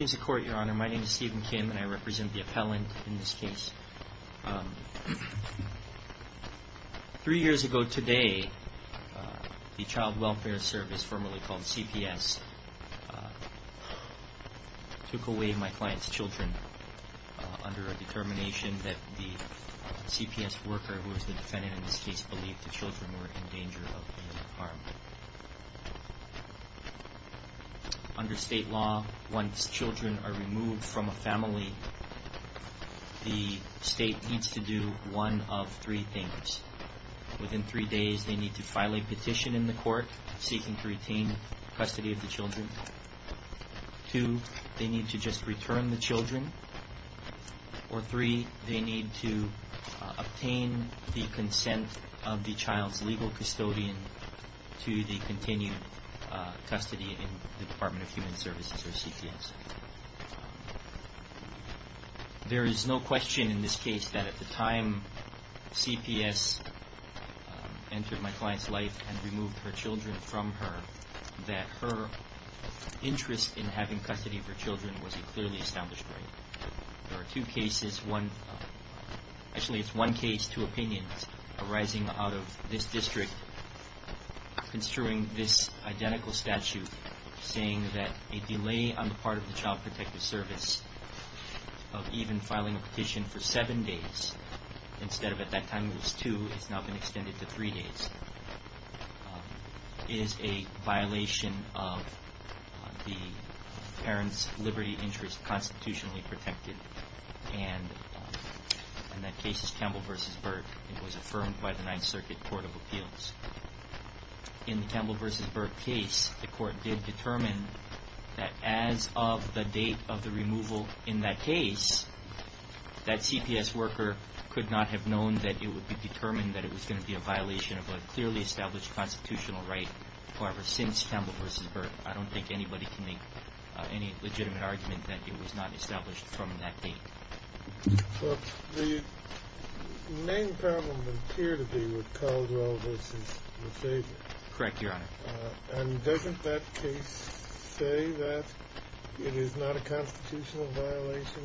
My name is Stephen Kim and I represent the appellant in this case. Three years ago today, the Child Welfare Service, formerly called CPS, took away my client's children under a determination that the CPS worker, who was the defendant in this case, believed the children were in danger of being harmed. Under state law, once children are removed from a family, the state needs to do one of three things. Within three days, they need to file a petition in the court seeking to retain custody of the children. Two, they need to just return the children. Or three, they need to obtain the consent of the child's legal custodian to the continued custody in the Department of Human Services, or CPS. There is no question in this case that at the time CPS entered my client's life and removed her children from her, that her interest in having custody of her children was a clearly established right. There are two cases, actually it's one case, two opinions, arising out of this district construing this identical statute saying that a delay on the part of the Child Protective Service of even filing a petition for seven days, instead of at that time it was two, has now been extended to three days, is a violation of the parent's liberty interest constitutionally protected. And that case is Campbell v. Burke. It was affirmed by the Ninth Circuit Court of Appeals. In the Campbell v. Burke case, the court did determine that as of the date of the removal in that case, that CPS worker could not have known that it would be determined that it was going to be a violation of a clearly established constitutional right. However, since Campbell v. Burke, I don't think anybody can make any legitimate argument that it was not established from that date. But the main problem would appear to be with Caldwell v. McPherson. Correct, Your Honor. And doesn't that case say that it is not a constitutional violation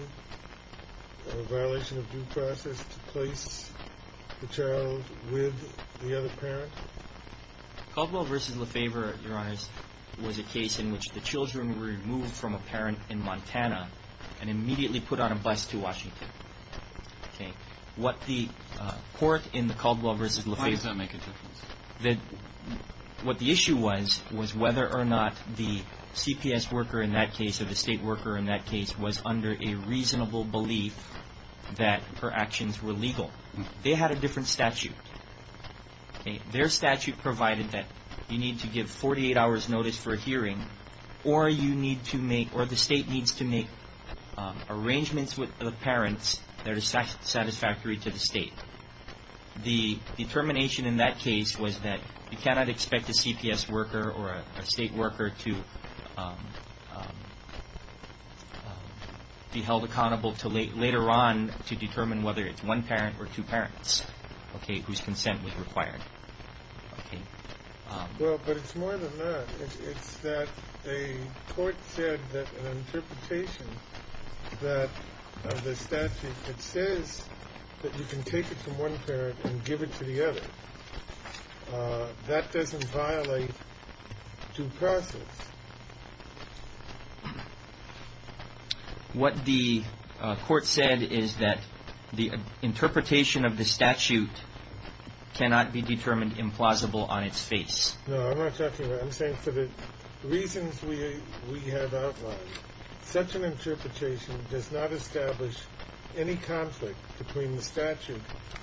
or a violation of due process to place the child with the other parent? Caldwell v. Lefebvre, Your Honors, was a case in which the children were removed from a parent in Montana and immediately put on a bus to Washington. What the court in the Caldwell v. Lefebvre Why does that make a difference? What the issue was, was whether or not the CPS worker in that case or the state worker in that case was under a reasonable belief that her actions were legal. They had a different statute. Their statute provided that you need to give 48 hours notice for a hearing or the state needs to make arrangements with the parents that are satisfactory to the state. The determination in that case was that you cannot expect a CPS worker or a state worker to be held accountable to later on to determine whether it's one parent or two parents whose consent was required. Well, but it's more than that. It's that a court said that an interpretation of the statute that says that you can take it from one parent and give it to the other, that doesn't violate due process. What the court said is that the interpretation of the statute cannot be determined implausible on its face. No, I'm not talking about that. I'm saying for the reasons we have outlined, such an interpretation does not establish any conflict between the statute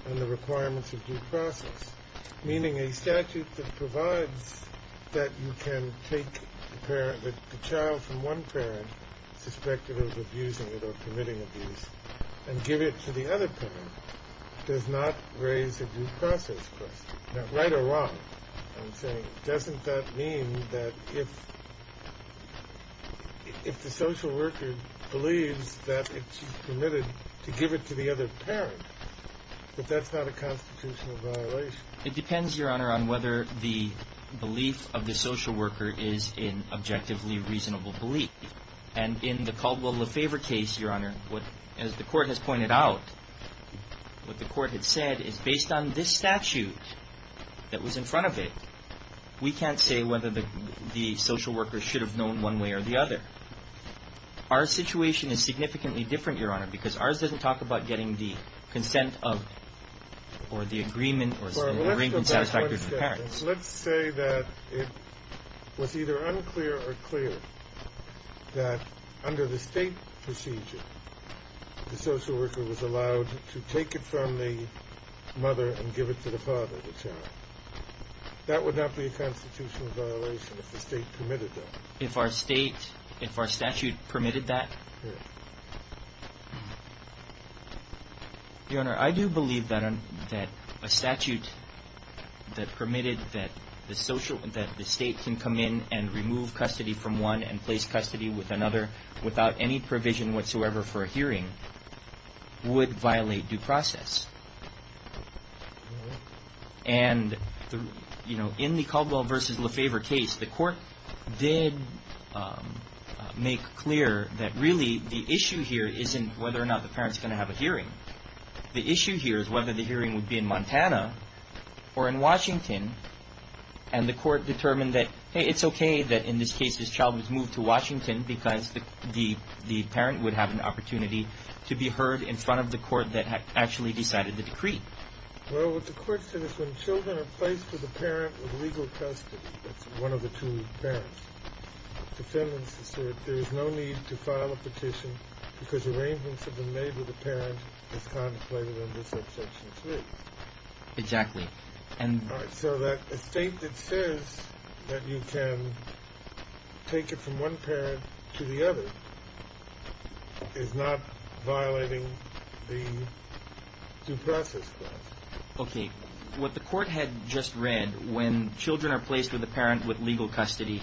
and the requirements of due process, meaning a statute that provides that you can take the child from one parent suspected of abusing it or committing abuse and give it to the other parent does not raise a due process question. Now, right or wrong, I'm saying, doesn't that mean that if the social worker believes that it's permitted to give it to the other parent, that that's not a constitutional violation? It depends, Your Honor, on whether the belief of the social worker is an objectively reasonable belief. And in the Caldwell LeFevre case, Your Honor, as the court has pointed out, what the court had said is based on this statute that was in front of it, we can't say whether the social worker should have known one way or the other. Our situation is significantly different, Your Honor, because ours doesn't talk about getting the consent of or the agreement or the arraignment satisfactory to the parents. Let's say that it was either unclear or clear that under the State procedure, the social worker was allowed to take it from the mother and give it to the father, the child. That would not be a constitutional violation if the State permitted that. If our State, if our statute permitted that? Yes. Your Honor, I do believe that a statute that permitted that the State can come in and remove custody from one and place custody with another without any provision whatsoever for a hearing would violate due process. And, you know, in the Caldwell v. LeFevre case, the court did make clear that really the issue here isn't whether or not the parent's going to have a hearing. The issue here is whether the hearing would be in Montana or in Washington, and the court determined that, hey, it's okay that in this case, this child was moved to Washington because the parent would have an opportunity to be heard in front of the court that had actually decided the decree. Well, what the court said is when children are placed with a parent with legal custody, that's one of the two parents, defendants assert there is no need to file a petition because arrangements have been made with the parent as contemplated under subsection 3. Exactly. All right. So that a State that says that you can take it from one parent to the other is not violating the due process clause. Okay. What the court had just read, when children are placed with a parent with legal custody,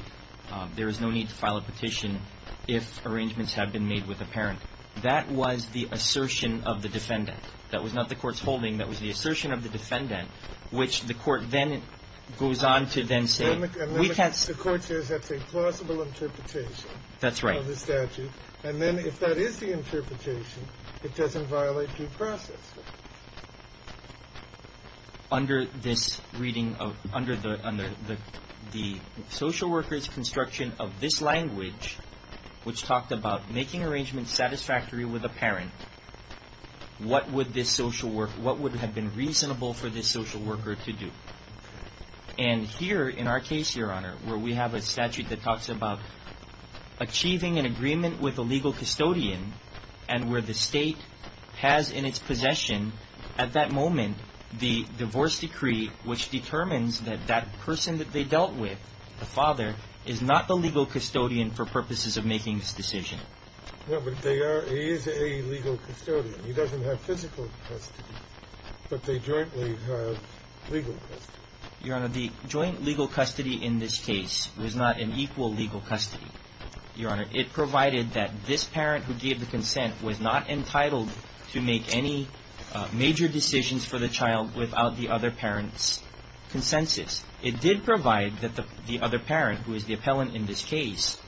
there is no need to file a petition if arrangements have been made with a parent. That was the assertion of the defendant. That was not the court's holding. That was the assertion of the defendant, which the court then goes on to then say. And then the court says that's a plausible interpretation. That's right. Of the statute. And then if that is the interpretation, it doesn't violate due process. Under this reading of the social worker's construction of this language, which talked about making arrangements satisfactory with a parent, what would have been reasonable for this social worker to do? And here in our case, Your Honor, where we have a statute that talks about achieving an agreement with a legal custodian and where the State has in its possession at that moment the divorce decree, which determines that that person that they dealt with, the father, is not the legal custodian for purposes of making this decision. No, but they are. He is a legal custodian. He doesn't have physical custody, but they jointly have legal custody. Your Honor, the joint legal custody in this case was not an equal legal custody. Your Honor, it provided that this parent who gave the consent was not entitled to make any major decisions for the child without the other parent's consensus. It did provide that the other parent, who is the appellant in this case,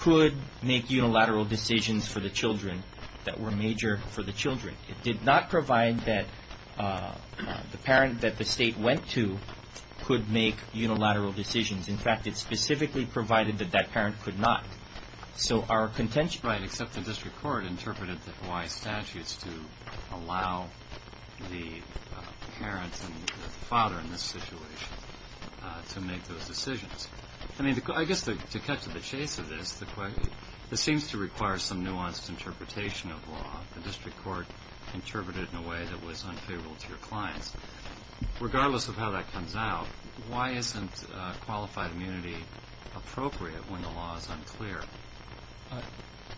could make unilateral decisions for the children that were major for the children. It did not provide that the parent that the State went to could make unilateral decisions. In fact, it specifically provided that that parent could not. So our contention- Right, except the district court interpreted the Hawaii statutes to allow the parents and the father in this situation to make those decisions. I mean, I guess to cut to the chase of this, this seems to require some nuanced interpretation of law. The district court interpreted it in a way that was unfavorable to your clients. Regardless of how that comes out, why isn't qualified immunity appropriate when the law is unclear?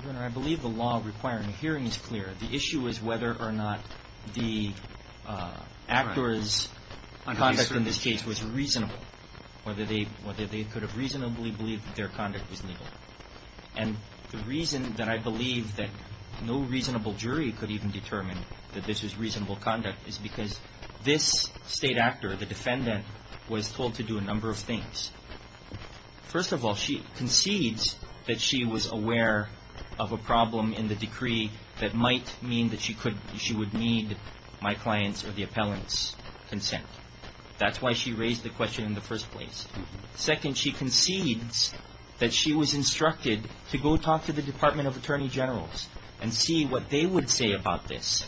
Your Honor, I believe the law requiring a hearing is clear. The issue is whether or not the actor's conduct in this case was reasonable, whether they could have reasonably believed that their conduct was legal. And the reason that I believe that no reasonable jury could even determine that this was reasonable conduct is because this State actor, the defendant, was told to do a number of things. First of all, she concedes that she was aware of a problem in the decree that might mean that she would need my client's or the appellant's consent. That's why she raised the question in the first place. Second, she concedes that she was instructed to go talk to the Department of Attorney Generals and see what they would say about this.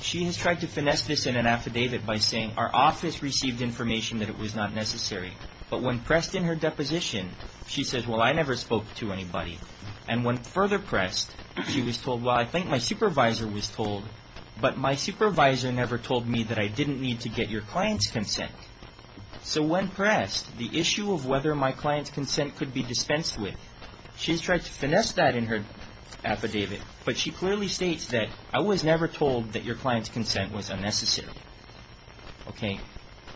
She has tried to finesse this in an affidavit by saying, our office received information that it was not necessary. But when pressed in her deposition, she says, well, I never spoke to anybody. And when further pressed, she was told, well, I think my supervisor was told, but my supervisor never told me that I didn't need to get your client's consent. So when pressed, the issue of whether my client's consent could be dispensed with, she has tried to finesse that in her affidavit, but she clearly states that I was never told that your client's consent was unnecessary. Okay?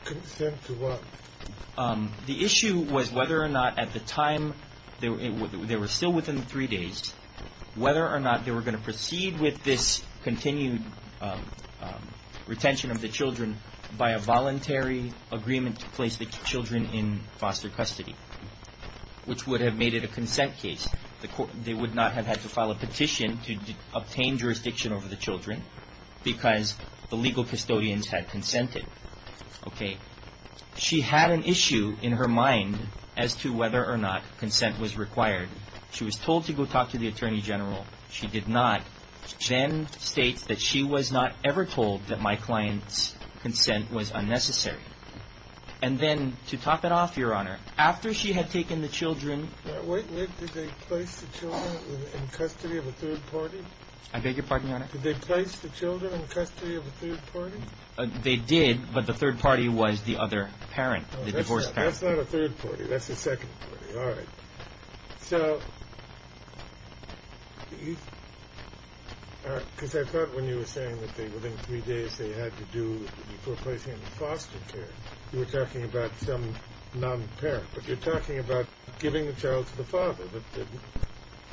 Consent to what? The issue was whether or not at the time, they were still within three days, whether or not they were going to proceed with this continued retention of the children by a voluntary agreement to place the children in foster custody, which would have made it a consent case. They would not have had to file a petition to obtain jurisdiction over the children because the legal custodians had consented. Okay. She had an issue in her mind as to whether or not consent was required. She was told to go talk to the Attorney General. She did not. Then states that she was not ever told that my client's consent was unnecessary. And then to top it off, Your Honor, after she had taken the children. Wait, wait. Did they place the children in custody of a third party? I beg your pardon, Your Honor? Did they place the children in custody of a third party? They did, but the third party was the other parent, the divorced parent. That's not a third party. That's a second party. All right. So, because I thought when you were saying that within three days they had to do before placing them in foster care, you were talking about some non-parent, but you're talking about giving the child to the father,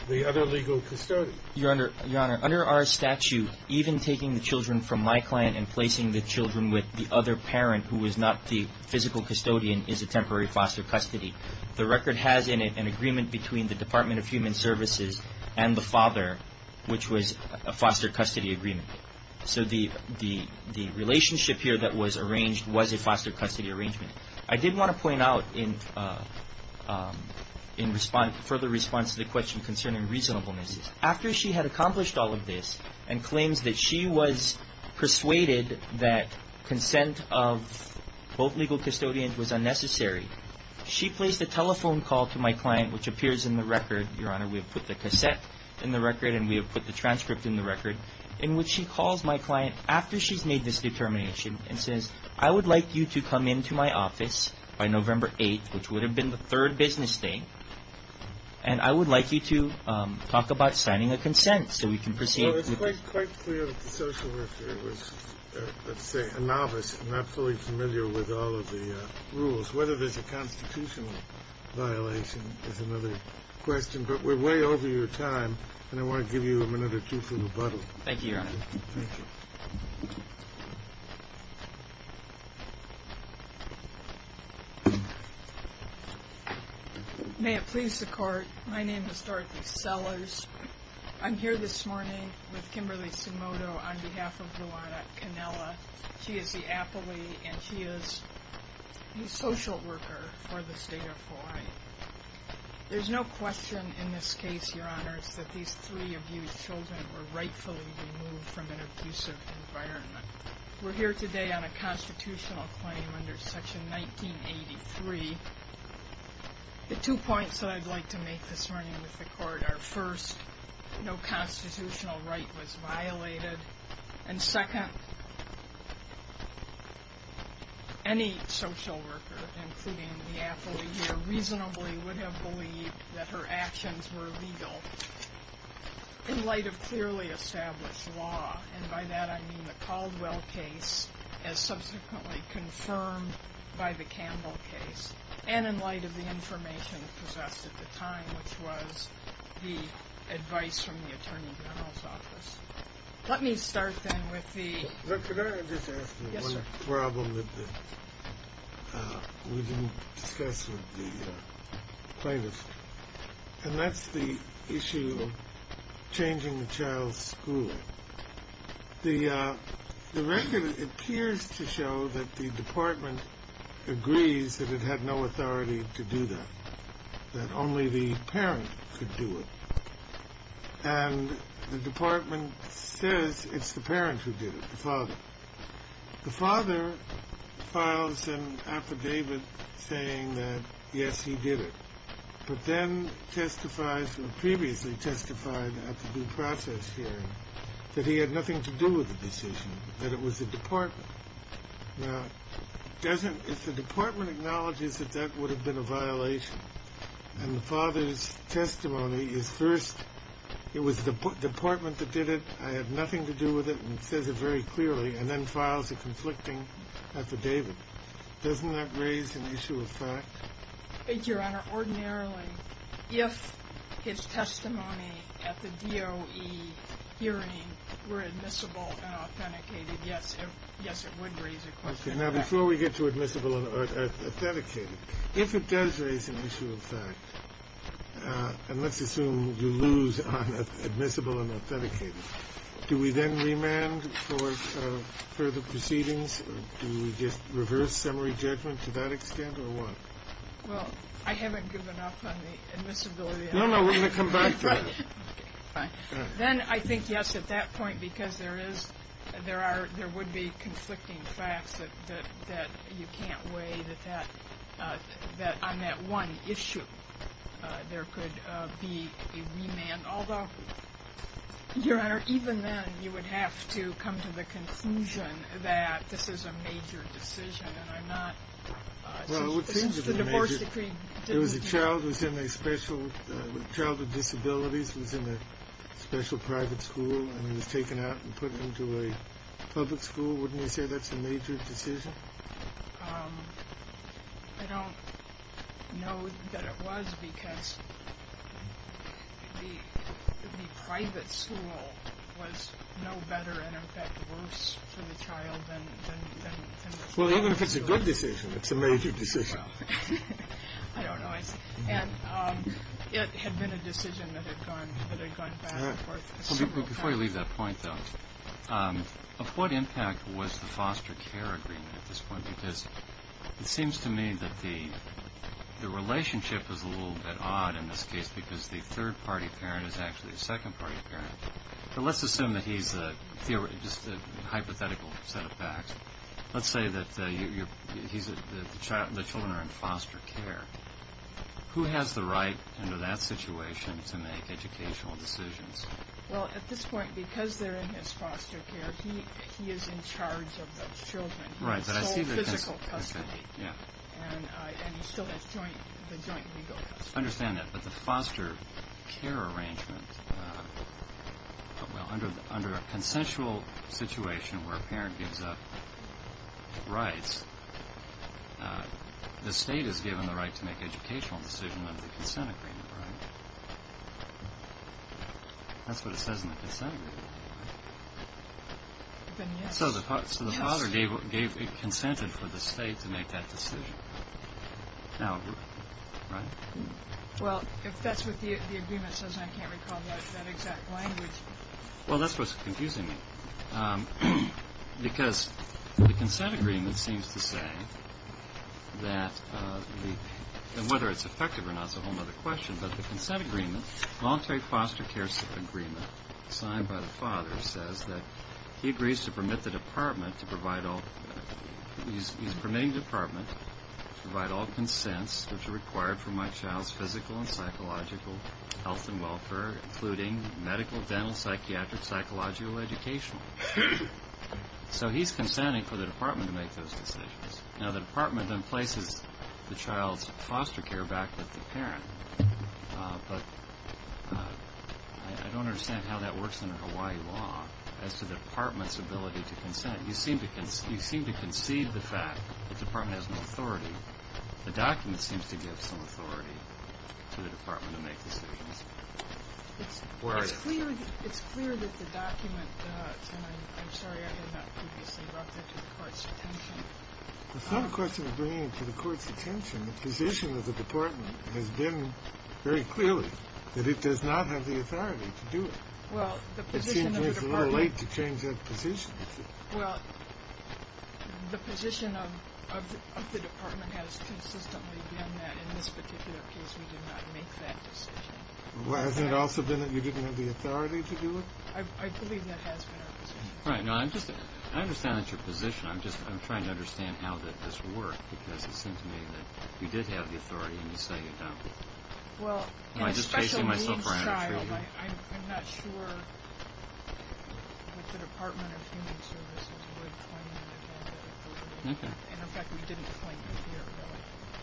the other legal custodian. Your Honor, under our statute, even taking the children from my client and placing the children with the other parent who is not the physical custodian is a temporary foster custody. The record has in it an agreement between the Department of Human Services and the father, which was a foster custody agreement. So the relationship here that was arranged was a foster custody arrangement. I did want to point out in further response to the question concerning reasonableness, after she had accomplished all of this and claims that she was persuaded that consent of both legal custodians was unnecessary, she placed a telephone call to my client, which appears in the record. Your Honor, we have put the cassette in the record and we have put the transcript in the record, in which she calls my client after she's made this determination and says, I would like you to come into my office by November 8th, which would have been the third business day, and I would like you to talk about signing a consent so we can proceed. It's quite clear that the social worker was, let's say, a novice and not fully familiar with all of the rules, whether there's a constitutional violation is another question, but we're way over your time and I want to give you a minute or two for rebuttal. Thank you, Your Honor. Thank you. May it please the Court, my name is Dorothy Sellers. I'm here this morning with Kimberly Simodo on behalf of Luana Canela. She is the appellee and she is the social worker for the State of Hawaii. There's no question in this case, Your Honor, that these three abused children were rightfully removed from an abusive environment. We're here today on a constitutional claim under Section 1983. The two points that I'd like to make this morning with the Court are, first, no constitutional right was violated, and second, any social worker, including the appellee here, reasonably would have believed that her actions were legal in light of clearly established law, and by that I mean the Caldwell case as subsequently confirmed by the Campbell case and in light of the information possessed at the time, which was the advice from the Attorney General's office. Let me start, then, with the... Look, could I just ask you one problem that we didn't discuss with the plaintiffs? And that's the issue of changing the child's school. The record appears to show that the Department agrees that it had no authority to do that, that only the parent could do it, and the Department says it's the parent who did it, the father. The father files an affidavit saying that, yes, he did it, but then testifies or previously testified at the due process hearing that he had nothing to do with the decision, that it was the Department. Now, if the Department acknowledges that that would have been a violation and the father's testimony is first, it was the Department that did it, I have nothing to do with it, and says it very clearly, and then files a conflicting affidavit, doesn't that raise an issue of fact? Your Honor, ordinarily, if his testimony at the DOE hearing were admissible and authenticated, yes, it would raise a question of fact. Okay. Now, before we get to admissible and authenticated, if it does raise an issue of fact, and let's assume you lose on admissible and authenticated, do we then remand for further proceedings? Do we just reverse summary judgment to that extent, or what? Well, I haven't given up on the admissibility. No, no, we're going to come back to that. Then I think, yes, at that point, because there would be conflicting facts that you can't weigh, that on that one issue there could be a remand, although, Your Honor, even then you would have to come to the conclusion that this is a major decision. Well, it would seem to be a major... Since the divorce decree didn't... There was a child who was in a special... The child with disabilities was in a special private school, and he was taken out and put into a public school. Wouldn't you say that's a major decision? I don't know that it was, because the private school was no better, and, in fact, worse for the child than... Well, even if it's a good decision, it's a major decision. I don't know. And it had been a decision that had gone back and forth several times. Before you leave that point, though, of what impact was the foster care agreement at this point? Because it seems to me that the relationship is a little bit odd in this case, because the third-party parent is actually a second-party parent. But let's assume that he's a hypothetical set of facts. Let's say that the children are in foster care. Who has the right under that situation to make educational decisions? Well, at this point, because they're in his foster care, he is in charge of those children. He has sole physical custody, and he still has the joint legal custody. Let's understand that, but the foster care arrangement, under a consensual situation where a parent gives up rights, the state is given the right to make educational decisions under the consent agreement, right? That's what it says in the consent agreement. So the father consented for the state to make that decision. Now, right? Well, if that's what the agreement says, I can't recall that exact language. Well, that's what's confusing me. Because the consent agreement seems to say that whether it's effective or not is a whole other question, but the consent agreement, voluntary foster care agreement signed by the father, says that he agrees to permit the department to provide all, he's permitting the department to provide all consents which are required for my child's physical and psychological health and welfare, including medical, dental, psychiatric, psychological, educational. So he's consenting for the department to make those decisions. Now, the department then places the child's foster care back with the parent, but I don't understand how that works under Hawaii law as to the department's ability to consent. You seem to concede the fact that the department has no authority. The document seems to give some authority to the department to make decisions. Where are you? It's clear that the document does, and I'm sorry I did not previously refer to the court's attention. It's not a question of bringing it to the court's attention. The position of the department has been very clearly that it does not have the authority to do it. It seems it's a little late to change that position. Well, the position of the department has consistently been that in this particular case we did not make that decision. Well, hasn't it also been that you didn't have the authority to do it? I believe that has been our position. I understand that's your position. I'm trying to understand how did this work, because it seems to me that you did have the authority and you say you don't. Well, in a special needs child, I'm not sure what the Department of Human Services would claim. And, in fact, we didn't claim it here.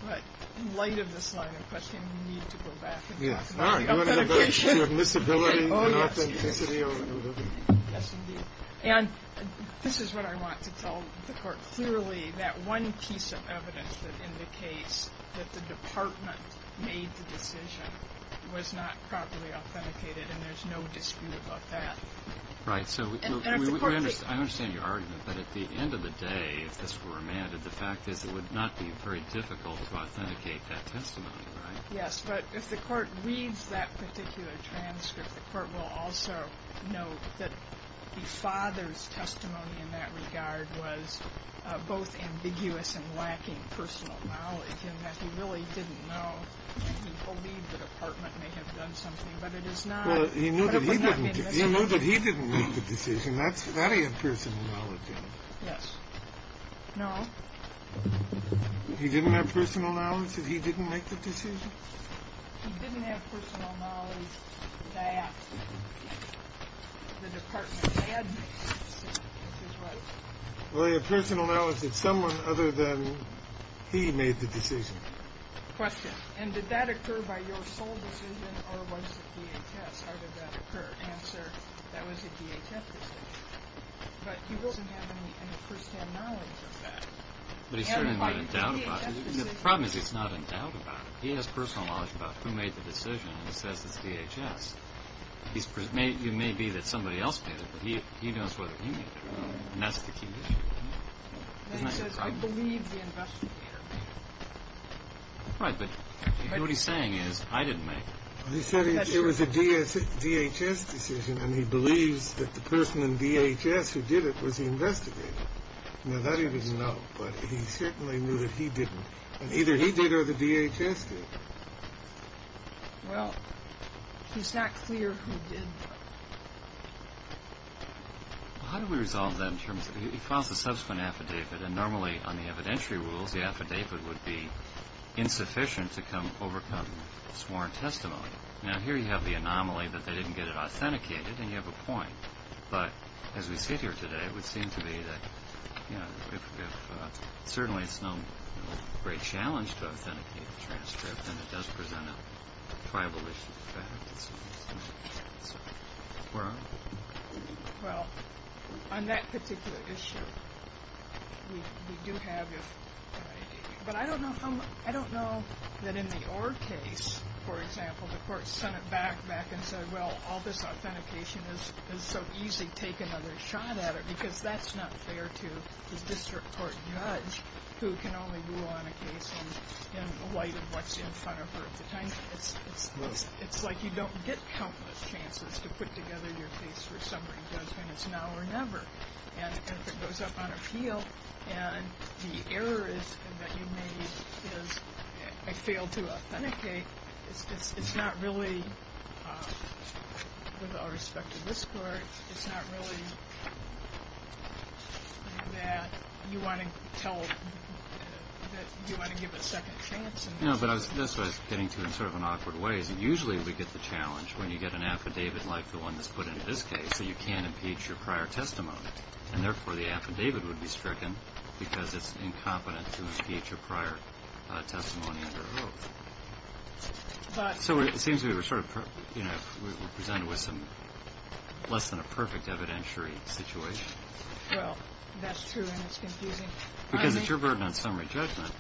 But in light of this line of questioning, we need to go back and talk about authentication. You want to go back to admissibility and authenticity? Yes, indeed. And this is what I want to tell the court. Clearly, that one piece of evidence that indicates that the department made the decision was not properly authenticated, and there's no dispute about that. Right. I understand your argument, but at the end of the day, if this were amended, the fact is it would not be very difficult to authenticate that testimony, right? Yes. But if the court reads that particular transcript, the court will also note that the father's testimony in that regard was both ambiguous and lacking personal knowledge, and that he really didn't know. He believed the department may have done something, but it is not. Well, he knew that he didn't make the decision. That's very impersonal knowledge, isn't it? Yes. No. He didn't have personal knowledge that he didn't make the decision? He didn't have personal knowledge that the department had made the decision, which is right. Well, he had personal knowledge that someone other than he made the decision. Question. And did that occur by your sole decision, or was it DHS? How did that occur? Answer. That was a DHS decision. But he doesn't have any firsthand knowledge of that. But he certainly wouldn't doubt about it. The problem is he's not in doubt about it. He has personal knowledge about who made the decision, and he says it's DHS. It may be that somebody else made it, but he knows whether he made it, and that's the key issue. Then he says, I believe the investigator made it. Right, but what he's saying is, I didn't make it. He said it was a DHS decision, and he believes that the person in DHS who did it was the investigator. Now, that he doesn't know, but he certainly knew that he didn't. And either he did or the DHS did. Well, it's not clear who did. How do we resolve that in terms of he files a subsequent affidavit, and normally on the evidentiary rules the affidavit would be insufficient to overcome sworn testimony. Now, here you have the anomaly that they didn't get it authenticated, and you have a point. But as we sit here today, it would seem to be that certainly it's no great challenge to authenticate the transcript, and it does present a tribal issue. Well, on that particular issue, we do have an idea. But I don't know that in the Orr case, for example, the court sent it back and said, well, all this authentication is so easy, take another shot at it, because that's not fair to the district court judge who can only rule on a case in light of what's in front of her. It's like you don't get countless chances to put together your case for summary judgment. It's now or never. And if it goes up on appeal and the error is that you made is I failed to authenticate, it's not really, with all respect to this court, it's not really that you want to give a second chance. No, but that's what I was getting to in sort of an awkward way, is that usually we get the challenge when you get an affidavit like the one that's put into this case, that you can't impeach your prior testimony, and therefore the affidavit would be stricken because it's incompetent to impeach your prior testimony under oath. So it seems we were sort of presented with less than a perfect evidentiary situation. Well, that's true, and it's confusing. Because it's your burden on summary judgment,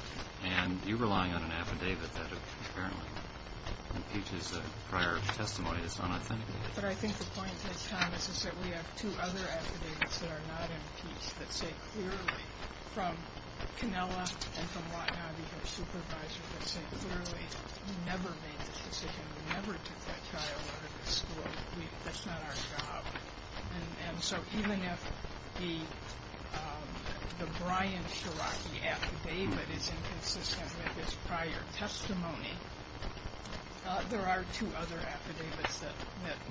and you're relying on an affidavit that apparently impeaches the prior testimony that's unauthenticated. But I think the point, Judge Thomas, is that we have two other affidavits that are not impeached that say clearly from Canella and from Watnabe, their supervisor, that say clearly we never made this decision. We never took that child out of the school. That's not our job. And so even if the Brian Shiraki affidavit is inconsistent with his prior testimony, there are two other affidavits that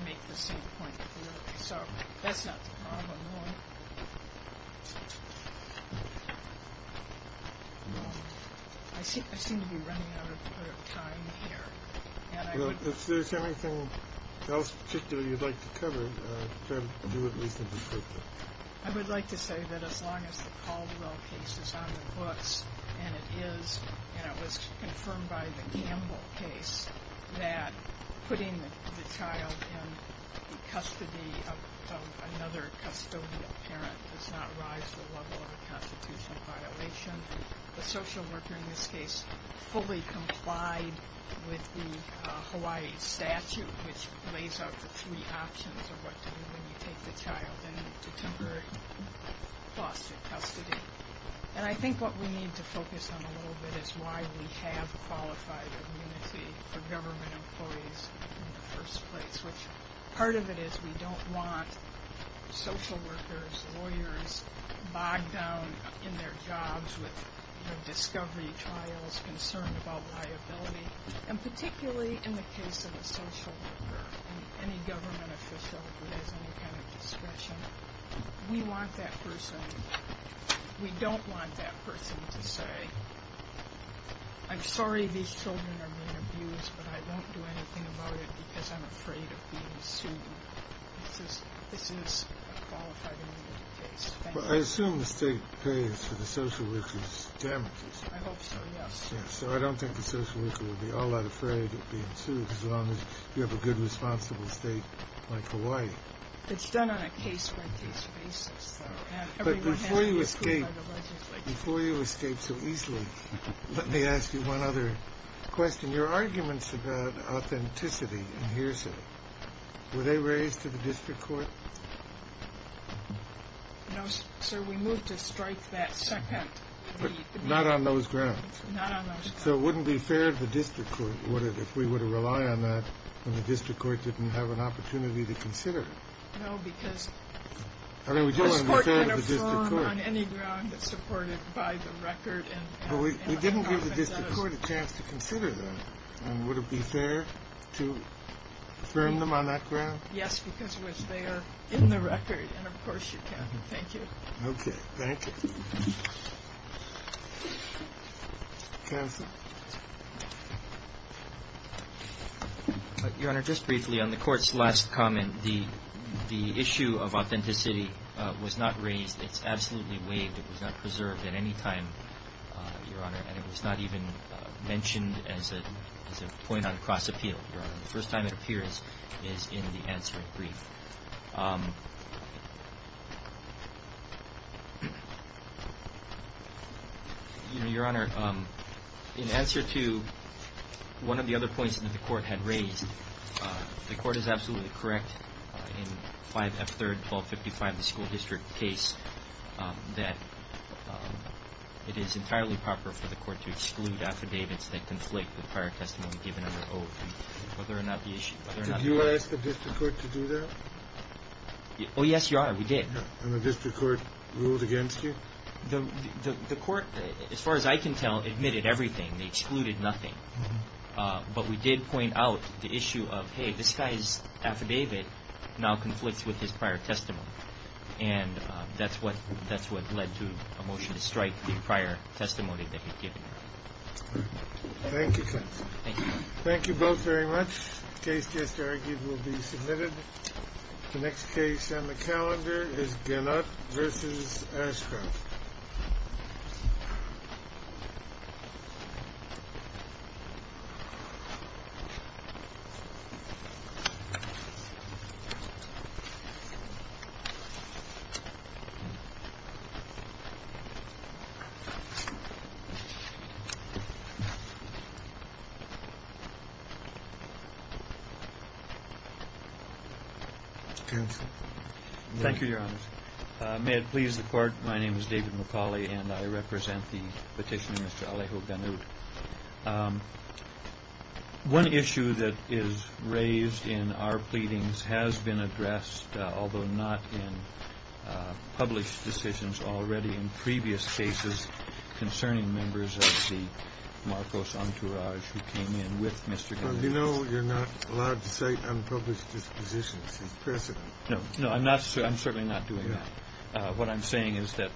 make the same point of view. So that's not the problem. I seem to be running out of time here. If there's anything else in particular you'd like to cover, do it briefly. I would like to say that as long as the Caldwell case is on the books, and it is, and it was confirmed by the Campbell case, that putting the child in custody of another custodial parent does not rise to the level of a constitutional violation. The social worker in this case fully complied with the Hawaii statute, which lays out the three options of what to do when you take the child into temporary foster custody. And I think what we need to focus on a little bit is why we have qualified immunity for government employees in the first place, which part of it is we don't want social workers, lawyers, bogged down in their jobs with discovery trials, concerned about liability. And particularly in the case of a social worker, any government official who has any kind of discretion, we want that person, we don't want that person to say, I'm sorry these children are being abused, but I don't do anything about it because I'm afraid of being sued. This is a qualified immunity case. I assume the state pays for the social worker's damages. I hope so, yes. So I don't think the social worker would be all that afraid of being sued, as long as you have a good, responsible state like Hawaii. It's done on a case-by-case basis. But before you escape so easily, let me ask you one other question. Your arguments about authenticity in Hearsay, were they raised to the district court? No, sir, we moved to strike that second. But not on those grounds. Not on those grounds. So it wouldn't be fair to the district court if we were to rely on that when the district court didn't have an opportunity to consider it. No, because... I mean, we do want to defend the district court. The court can affirm on any ground that's supported by the record. But we didn't give the district court a chance to consider that. And would it be fair to affirm them on that ground? Yes, because they are in the record, and of course you can. Thank you. Okay, thank you. Counsel? Your Honor, just briefly, on the court's last comment, the issue of authenticity was not raised. It's absolutely waived. It was not preserved at any time, Your Honor. And it was not even mentioned as a point on cross-appeal, Your Honor. The first time it appears is in the answering brief. Your Honor, in answer to one of the other points that the court had raised, the court is absolutely correct in 5F3-1255, the school district case, that it is entirely proper for the court to exclude affidavits that conflict with prior testimony given under oath, whether or not the issue... Did you ask the district court to do that? Oh, yes, Your Honor, we did. And the district court ruled against you? The court, as far as I can tell, admitted everything. They excluded nothing. But we did point out the issue of, hey, this guy's affidavit now conflicts with his prior testimony. And that's what led to a motion to strike the prior testimony that he'd given. Thank you, counsel. Thank you. Thank you both very much. The case just argued will be submitted. The next case on the calendar is Gannott v. Ashcroft. Counsel. Thank you, Your Honor. May it please the court, my name is David McCauley, and I represent the petitioner, Mr. Alejo Gannott. One issue that is raised in our pleadings has been addressed, although not in published decisions already in previous cases, concerning members of the Marcos entourage who came in with Mr. Gannott. Do you know you're not allowed to cite unpublished dispositions as precedent? No, I'm certainly not doing that. What I'm saying is that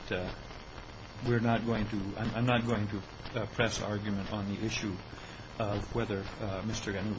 we're not going to – I'm not going to press argument on the issue of whether Mr. Gannott